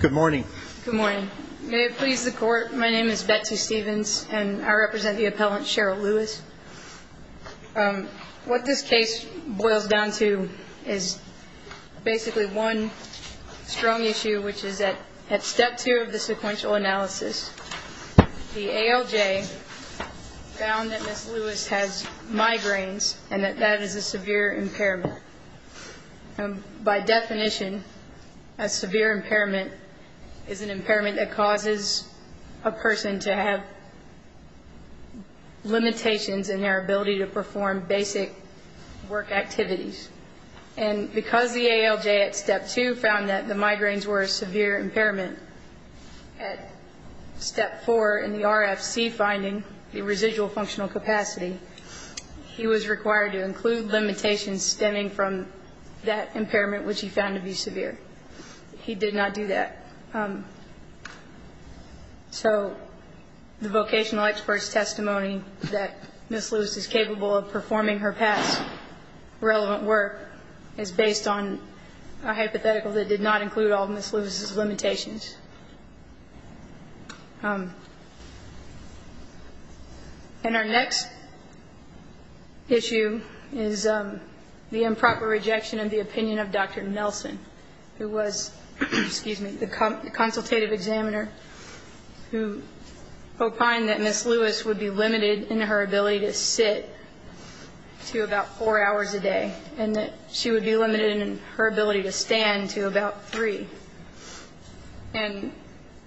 Good morning. Good morning. May it please the court. My name is Betsy Stevens and I represent the appellant Cheryl Lewis. What this case boils down to is basically one strong issue which is that at step two of the sequential analysis the ALJ found that Miss Lewis has migraines and that that is a severe impairment. By definition a severe impairment is an impairment that causes a person to have limitations in their ability to perform basic work activities. And because the ALJ at step two found that the migraines were a severe impairment at step four in the RFC finding, the ALJ was required to include limitations stemming from that impairment which he found to be severe. He did not do that. So the vocational expert's testimony that Miss Lewis is capable of performing her past relevant work is based on a hypothetical that did not include all Miss Lewis's limitations. And our next issue is the improper rejection of the opinion of Dr. Nelson who was, excuse me, the consultative examiner who opined that Miss Lewis would be limited in her ability to sit to about four hours a day and that she would be limited in her ability to stand to about three. And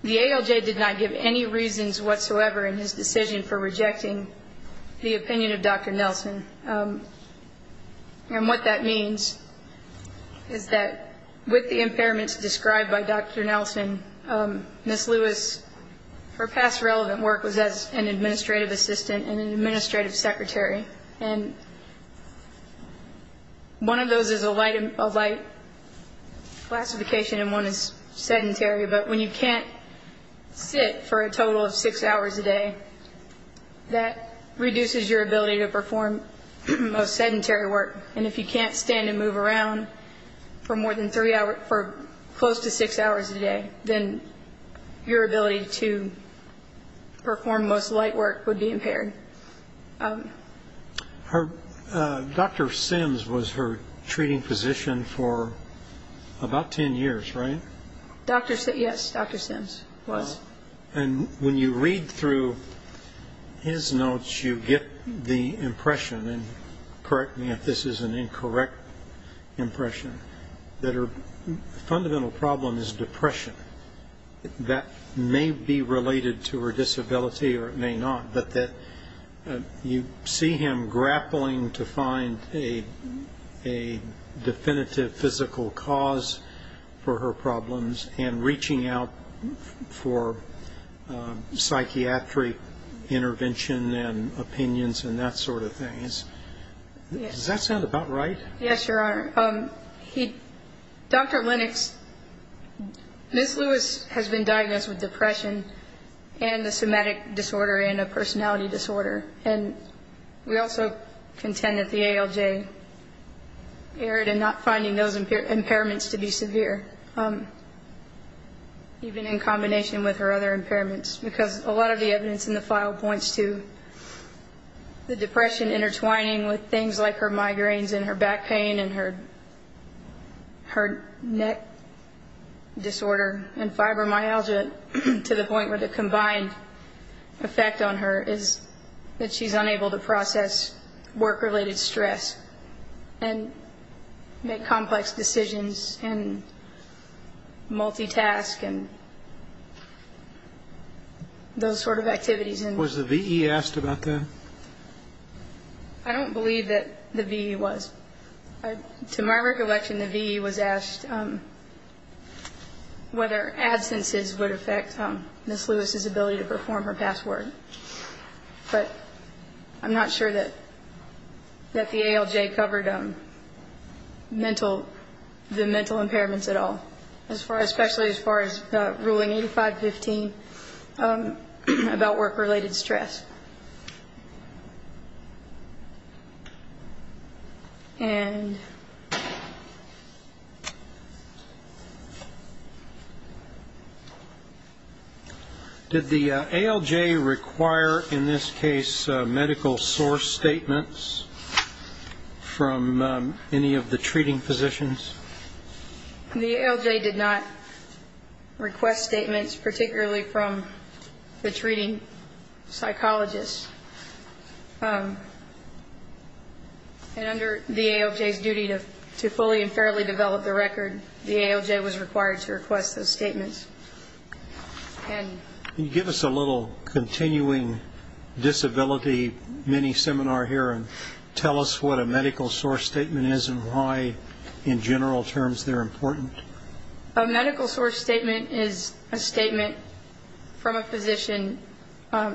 the ALJ did not give any reasons whatsoever in his decision for rejecting the opinion of Dr. Nelson. And what that means is that with the impairments described by Dr. Nelson, Miss Lewis, her past relevant work was as an administrative assistant and an administrative secretary. And one of those is a light classification and one is sedentary. But when you can't sit for a total of six hours a day, that reduces your ability to perform most sedentary work. And if you can't stand and move around for more than three hours, for close to six hours a day, then your ability to perform most light work would be impaired. Dr. Simpson was her treating physician for about ten years, right? Yes, Dr. Simpson was. And when you read through his notes, you get the impression, and correct me if this is an that may be related to her disability or it may not, but that you see him grappling to find a definitive physical cause for her problems and reaching out for psychiatric intervention and opinions and that sort of thing. Does that sound about right? Yes, Your Honor. Dr. Lennox, Miss Lewis has been diagnosed with depression and a somatic disorder and a personality disorder. And we also contend that the ALJ erred in not finding those impairments to be severe, even in combination with her other impairments, because a lot of the evidence in the file points to the depression intertwining with things like her migraines and her back pain and her neck disorder and fibromyalgia to the point where the combined effect on her is that she's unable to process work-related stress and make complex decisions and multitask and those sort of activities. Was the VE asked about that? I don't believe that the VE was. To my recollection, the VE was asked whether absences would affect Miss Lewis's ability to perform her past work. But I'm not sure that the ALJ covered the mental impairments at all, especially as far as I'm concerned. Did the ALJ require, in this case, medical source statements from any of the treating physicians? The ALJ did not request statements particularly from the treating psychologists. And under the ALJ's duty to fully and fairly develop the record, the ALJ was required to request those statements. Can you give us a little continuing disability mini-seminar here and tell us what a medical source statement is and why, in general terms, they're important? A medical source statement is a statement from a physician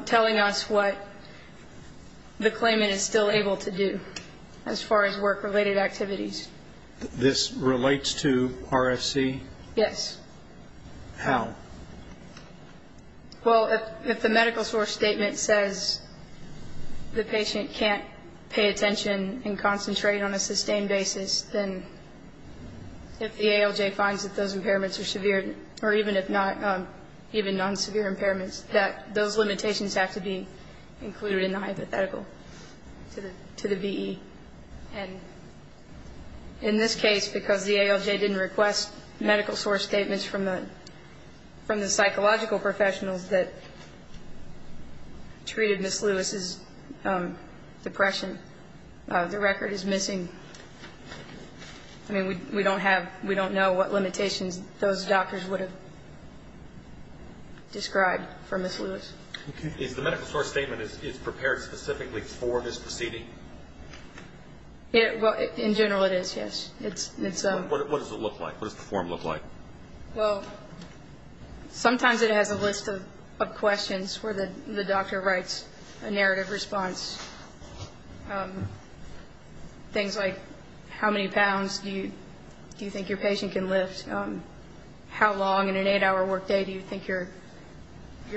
telling us what the claimant is still able to do as far as work-related activities. This relates to RFC? Yes. How? Well, if the medical source statement says the patient can't pay attention and concentrate on work, if the ALJ finds that those impairments are severe, or even if not, even non-severe impairments, that those limitations have to be included in the hypothetical to the VE. And in this case, because the ALJ didn't request medical source statements from the psychological professionals that treated Miss Lewis's depression, the record is missing. I mean, we don't have, we don't know what limitations those doctors would have described for Miss Lewis. Is the medical source statement, it's prepared specifically for this proceeding? Yeah, well, in general, it is, yes. What does it look like? What does the form look like? Well, sometimes it has a list of questions where the doctor writes a narrative response, things like, how many pounds do you think your patient can lift? How long in an eight-hour workday do you think your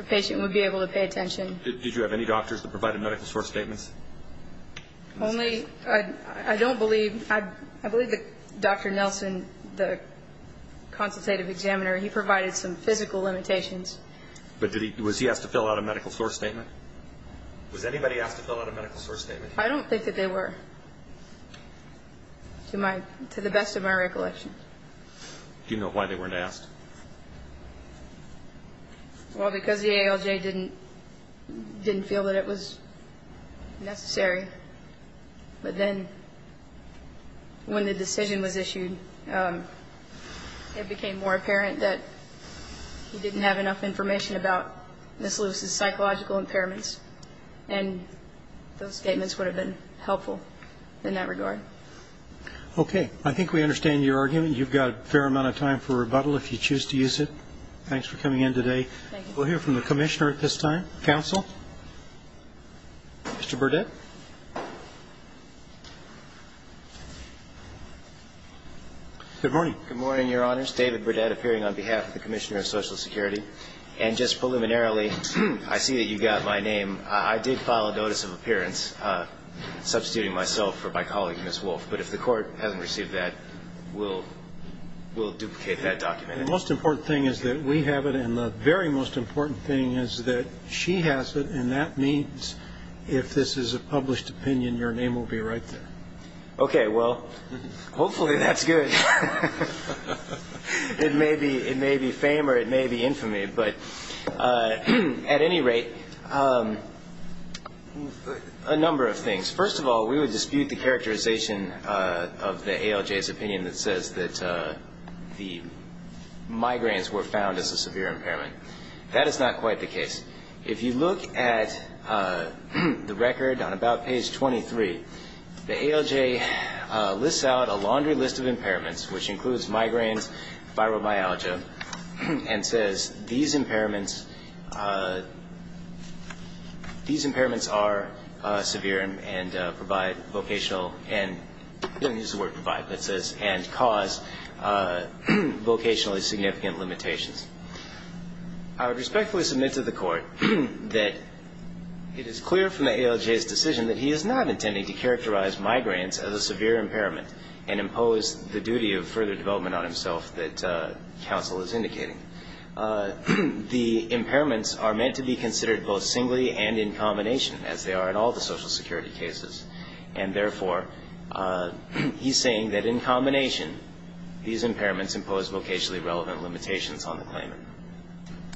patient would be able to pay attention? Did you have any doctors that provided medical source statements? Only, I don't believe, I believe that Dr. Nelson, the consultative examiner, he provided some physical limitations. But did he, was he asked to fill out a medical source statement? Was anybody asked to fill out a medical source statement? I don't think that they were, to the best of my recollection. Do you know why they weren't asked? Well, because the ALJ didn't feel that it was necessary. But then, when the decision was issued, it became more apparent that he didn't have enough information about Ms. Lewis's psychological impairments, and those statements would have been helpful in that regard. Okay. I think we understand your argument. You've got a fair amount of time for rebuttal if you choose to use it. Thanks for coming in today. Thank you. We'll hear from the commissioner at this time. Counsel? Mr. Burdett? Good morning. Good morning, Your Honors. David Burdett, appearing on behalf of the Commissioner of Social Security. And just preliminarily, I see that you've got my name. I did file a notice of appearance, substituting myself for my colleague, Ms. Wolf. But if the Court hasn't received that, we'll duplicate that document. The most important thing is that we have it, and the very most important thing is that she has it, and that means, if this is a published opinion, your name will be right there. Okay. Well, hopefully that's good. It may be fame or it may be infamy, but at any rate, a number of things. First of all, we would dispute the characterization of the ALJ's opinion that says that the migraines were found as a severe impairment. That is not quite the case. If you look at the record on about page 23, the ALJ lists out a laundry list of impairments, which includes migraines, fibromyalgia, and says these impairments are severe and provide vocational, and I'm going to use the word provide, but it says and cause vocationally significant limitations. I would respectfully submit to the Court that it is clear from the ALJ's decision that he is not intending to characterize migraines as a severe impairment and impose the duty of further development on himself that counsel is indicating. The impairments are meant to be considered both singly and in combination, as they are in all the Social Security cases, and therefore, he's saying that in combination, these impairments impose vocationally relevant limitations on the claimant.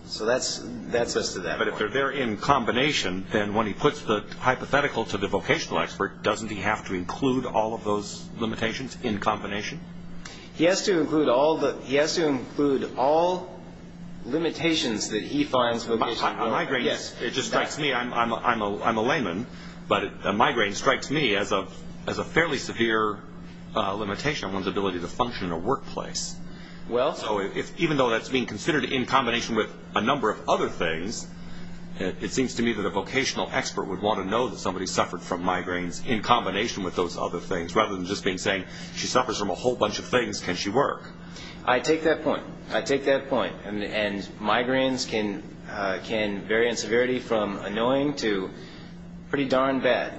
So that's us to that point. But if they're there in combination, then when he puts the hypothetical to the vocational expert, doesn't he have to include all of those limitations in combination? He has to include all the, he has to include all limitations that he finds vocationally relevant. A migraine, it just strikes me, I'm a layman, but a migraine strikes me as a fairly severe limitation on one's ability to function in a workplace. So even though that's being considered in combination with a number of other things, it seems to me that a vocational expert would want to know that somebody suffered from migraines in combination with those other things, rather than just being saying, she suffers from a whole bunch of things, can she work? I take that point. I take that point. And migraines can vary in severity from annoying to pretty darn bad.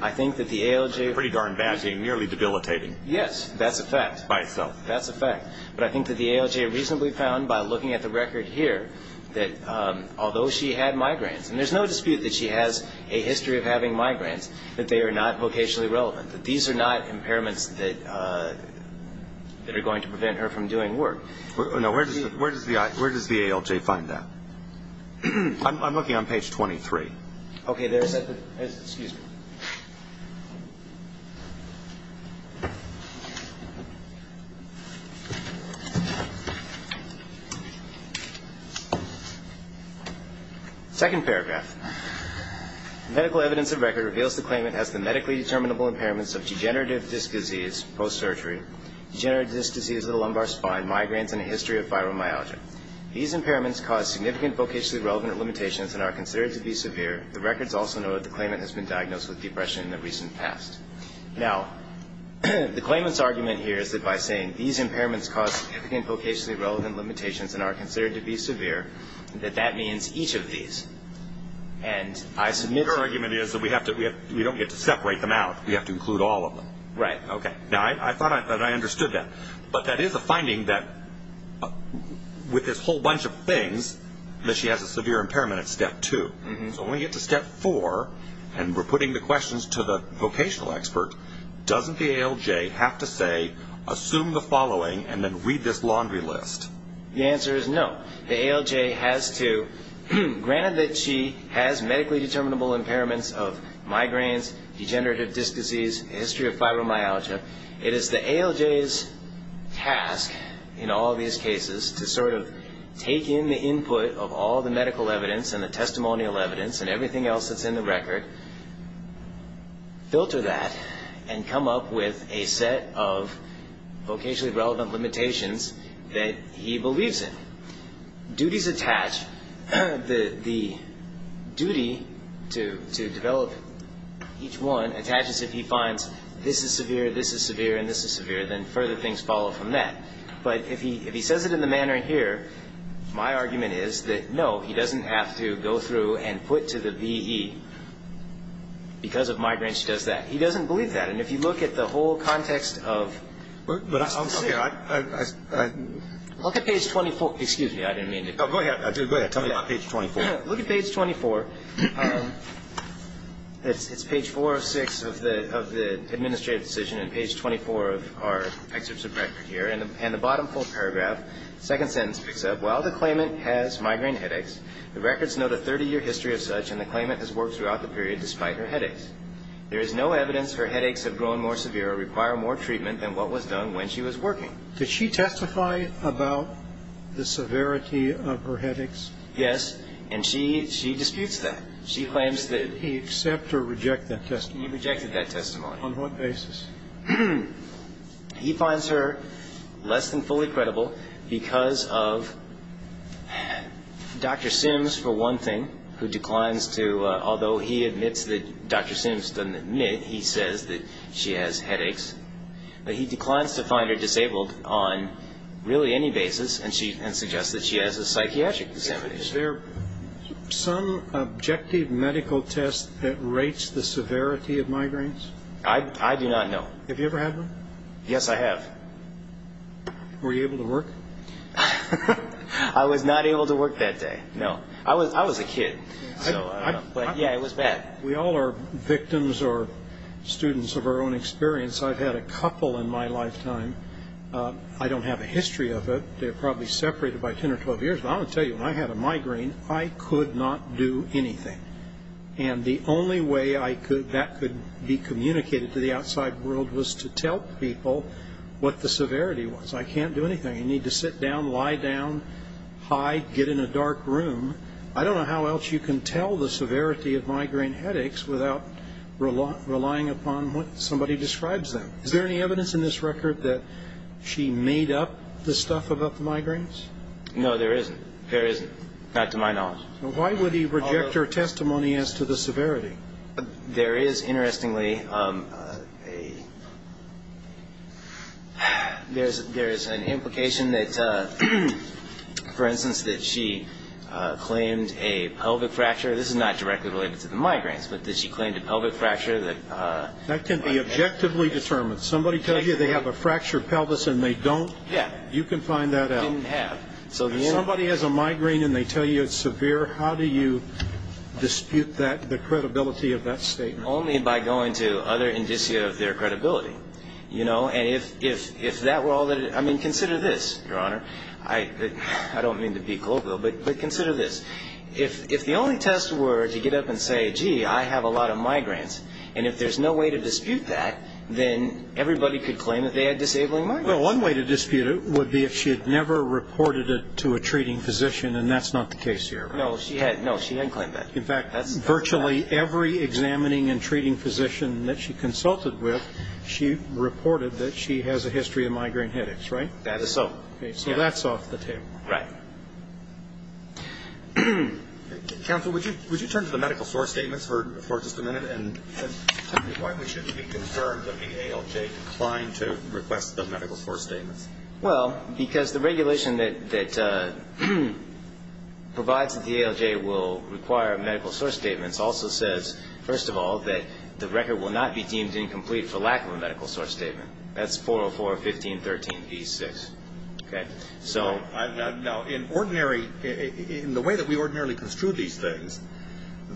I think that the ALJ... Pretty darn bad, nearly debilitating. Yes, that's a fact. By itself. But I think that the ALJ reasonably found by looking at the record here, that although she had migraines, and there's no dispute that she has a history of having migraines, that they are not vocationally relevant, that these are not impairments that are going to prevent her from doing work. No, where does the ALJ find that? I'm looking on page 23. Okay, there's... Second paragraph. Medical evidence of record reveals the claimant has the medically determinable impairments of degenerative disc disease, post-surgery, degenerative disc disease of the lumbar spine, migraines, and a history of fibromyalgia. These impairments cause significant vocationally relevant limitations and are considered to be severe. The records also note the claimant has been diagnosed with depression in the recent past. Now, the claimant's argument here is that by saying these impairments cause significant vocationally relevant limitations and are considered to be severe, that that means each of these. And I submit... Her argument is that we don't get to separate them out, we have to include all of them. Right. Okay. Now, I thought that I understood that. But that is a finding that with this whole bunch of things, that she has a severe impairment at step two. So when we get to step four, and we're putting the questions to the vocational expert, doesn't the ALJ have to say, assume the following, and then read this laundry list? The answer is no. The ALJ has to... Granted that she has medically determinable impairments of migraines, degenerative disc disease, a history of fibromyalgia, it is the ALJ's task in all these cases to sort everything else that's in the record, filter that, and come up with a set of vocationally relevant limitations that he believes in. Duties attached, the duty to develop each one attaches if he finds this is severe, this is severe, and this is severe, then further things follow from that. But if he says it in the manner here, my argument is that no, he doesn't have to go through and put to the VE. Because of migraines, he does that. He doesn't believe that. And if you look at the whole context of... Look at page 24, excuse me, I didn't mean to... Go ahead, tell me about page 24. Look at page 24, it's page 406 of the administrative decision and page 24 of our excerpts of record here, and the bottom full paragraph, second sentence picks up, while the claimant has the claimant has worked throughout the period despite her headaches. There is no evidence her headaches have grown more severe or require more treatment than what was done when she was working. Did she testify about the severity of her headaches? Yes, and she disputes that. She claims that... He accept or reject that testimony? He rejected that testimony. On what basis? He finds her less than fully credible because of Dr. Sims, for one thing, who declines to... Although he admits that Dr. Sims doesn't admit, he says that she has headaches, but he declines to find her disabled on really any basis and suggests that she has a psychiatric disability. Is there some objective medical test that rates the severity of migraines? I do not know. Have you ever had one? Yes, I have. Were you able to work? I was not able to work that day, no. I was a kid, but yeah, it was bad. We all are victims or students of our own experience. I've had a couple in my lifetime. I don't have a history of it. They're probably separated by 10 or 12 years, but I'll tell you, when I had a migraine, I could not do anything. The only way that could be communicated to the outside world was to tell people what the severity was. I can't do anything. You need to sit down, lie down, hide, get in a dark room. I don't know how else you can tell the severity of migraine headaches without relying upon what somebody describes them. Is there any evidence in this record that she made up the stuff about the migraines? No, there isn't. There isn't, not to my knowledge. Why would he reject her testimony as to the severity? There is, interestingly, an implication that, for instance, that she claimed a pelvic fracture. This is not directly related to the migraines, but that she claimed a pelvic fracture. That can be objectively determined. Somebody tells you they have a fractured pelvis and they don't? Yeah. You can find that out. Didn't have. If somebody has a migraine and they tell you it's severe, how do you dispute the credibility of that statement? Only by going to other indicia of their credibility. Consider this, Your Honor. I don't mean to be colloquial, but consider this. If the only test were to get up and say, gee, I have a lot of migraines, and if there's no way to dispute that, then everybody could claim that they had disabling migraines. One way to dispute it would be if she had never reported it to a treating physician, and that's not the case here, right? No, she didn't claim that. In fact, virtually every examining and treating physician that she consulted with, she reported that she has a history of migraine headaches, right? That is so. So that's off the table. Right. Counsel, would you turn to the medical source statements for just a minute, and tell me why we shouldn't be concerned that the ALJ declined to request the medical source statements? Well, because the regulation that provides that the ALJ will require medical source statements also says, first of all, that the record will not be deemed incomplete for lack of a medical source statement. That's 404.15.13b6, okay? So now, in the way that we ordinarily construe these things,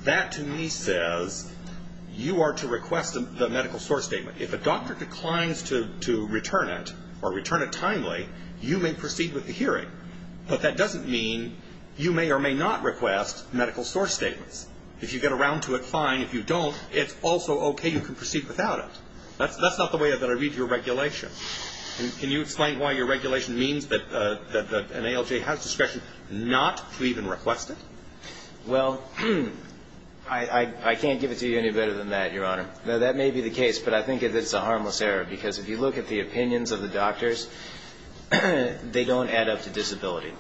that to me says you are to request the medical source statement. If a doctor declines to return it, or return it timely, you may proceed with the hearing. But that doesn't mean you may or may not request medical source statements. If you get around to it, fine. If you don't, it's also okay. You can proceed without it. That's not the way that I read your regulation. Can you explain why your regulation means that an ALJ has discretion not to even request it? Well, I can't give it to you any better than that, Your Honor. Now, that may be the case, but I think it is a harmless error. Because if you look at the opinions of the doctors, they don't add up to disability.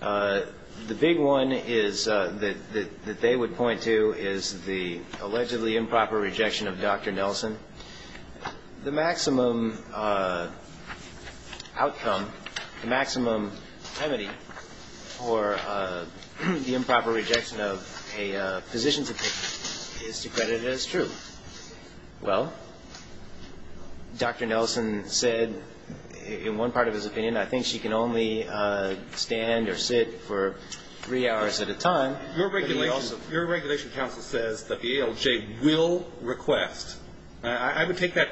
The big one that they would point to is the allegedly improper rejection of Dr. Nelson. The maximum outcome, the maximum temity for the improper rejection of a physician's opinion is to credit it as true. Well, Dr. Nelson said in one part of his opinion, I think she can only stand or sit for three hours at a time. Your regulation, counsel, says that the ALJ will request. I would take that,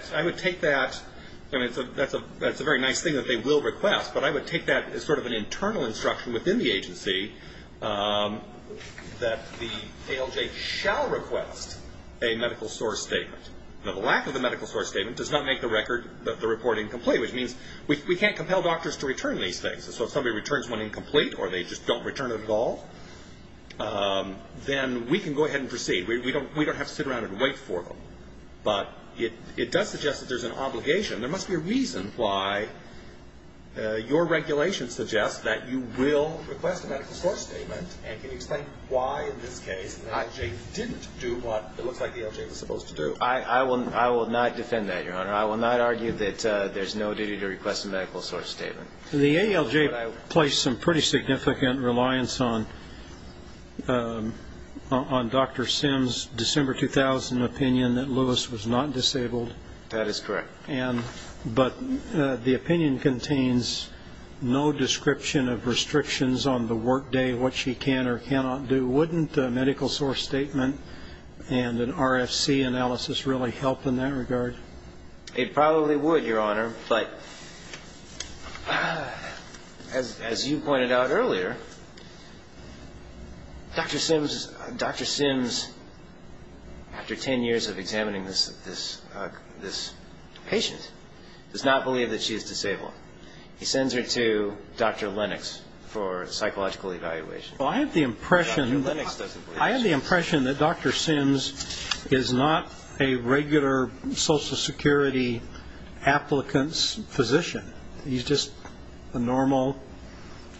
that's a very nice thing that they will request, but I would take that as sort of an internal instruction within the agency that the ALJ shall request a medical source statement. Now, the lack of the medical source statement does not make the report incomplete, which means we can't compel doctors to return these things. So if somebody returns one incomplete or they just don't return it at all, then we can go ahead and proceed. We don't have to sit around and wait for them. But it does suggest that there's an obligation. There must be a reason why your regulation suggests that you will request a medical source statement. And can you explain why, in this case, the ALJ didn't do what it looks like the ALJ was supposed to do? I will not defend that, Your Honor. I will not argue that there's no duty to request a medical source statement. The ALJ placed some pretty significant reliance on Dr. Sims' December 2000 opinion that Lewis was not disabled. That is correct. But the opinion contains no description of restrictions on the workday, what she can or cannot do. Wouldn't a medical source statement and an RFC analysis really help in that regard? It probably would, Your Honor. But as you pointed out earlier, Dr. Sims, after 10 years of examining this patient, does not believe that she is disabled. He sends her to Dr. Lennox for psychological evaluation. Well, I have the impression that Dr. Sims is not a regular social security applicant's physician. He's just a normal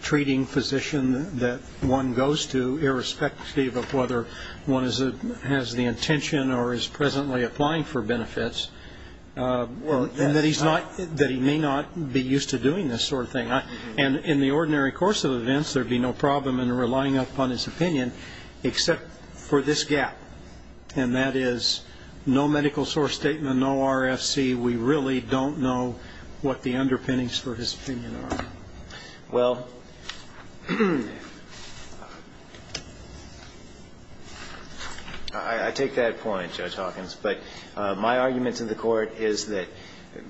treating physician that one goes to, irrespective of whether one has the intention or is presently applying for benefits, and that he may not be used to doing this sort of thing. And in the ordinary course of events, there'd be no problem in relying upon his opinion, except for this gap. And that is no medical source statement, no RFC. We really don't know what the underpinnings for his opinion are. Well, I take that point, Judge Hawkins. But my argument to the court is that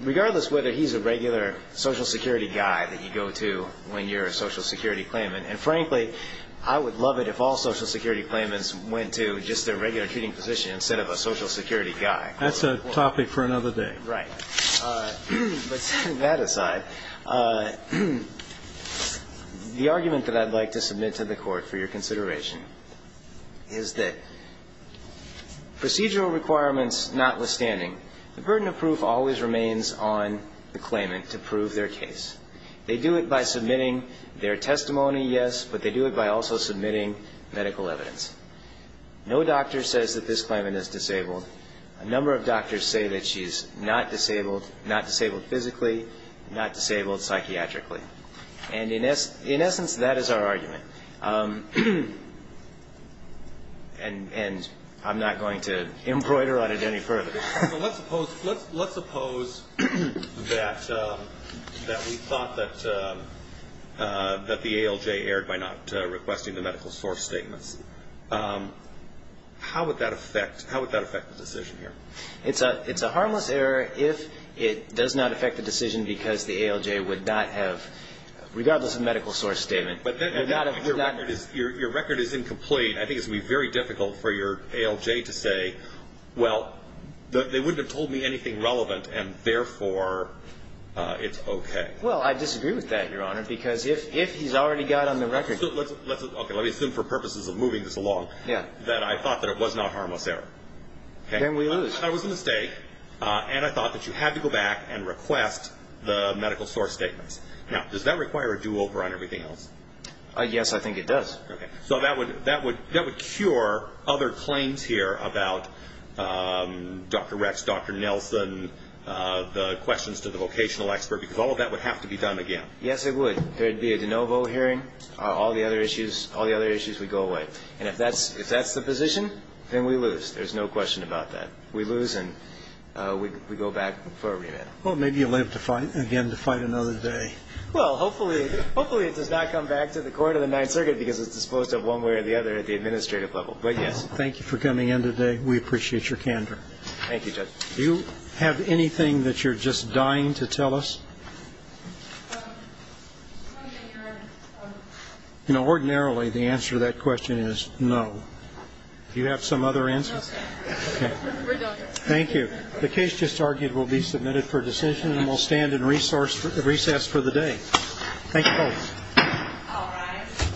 regardless whether he's a regular social security guy that you go to when you're a social security claimant, and frankly, I would love it if all social security claimants went to just their regular treating physician instead of a social security guy. That's a topic for another day. Right. But setting that aside, the argument that I'd like to submit to the court for your consideration is that procedural requirements notwithstanding, the burden of proof always remains on the claimant to prove their case. They do it by submitting their testimony, yes, but they do it by also submitting medical evidence. No doctor says that this claimant is disabled. A number of doctors say that she's not disabled, not disabled physically, not disabled psychiatrically. And in essence, that is our argument. And I'm not going to embroider on it any further. Let's suppose that we thought that the ALJ erred by not requesting the medical source statements. How would that affect the decision here? It's a harmless error if it does not affect the decision because the ALJ would not have, regardless of medical source statement. But then your record is incomplete. I think it's going to be very difficult for your ALJ to say, well, they wouldn't have told me anything relevant and therefore it's OK. Well, I disagree with that, Your Honor, because if he's already got on the record. OK, let me assume for purposes of moving this along that I thought that it was not a harmless error. Then we lose. I was a mistake and I thought that you had to go back and request the medical source statements. Now, does that require a do over on everything else? Yes, I think it does. So that would cure other claims here about Dr. Rex, Dr. Nelson, the questions to the vocational expert, because all of that would have to be done again. Yes, it would. There'd be a de novo hearing. All the other issues would go away. And if that's the position, then we lose. There's no question about that. We lose and we go back for a remand. Well, maybe you live to fight again, to fight another day. Well, hopefully it does not come back to the Court of the Ninth Circuit because it's disposed of one way or the other at the administrative level. But, yes. Thank you for coming in today. We appreciate your candor. Thank you, Judge. Do you have anything that you're just dying to tell us? You know, ordinarily, the answer to that question is no. Do you have some other answers? No, sir. OK. Thank you. The case just argued will be submitted for decision and will stand in recess for the day. Thank you both.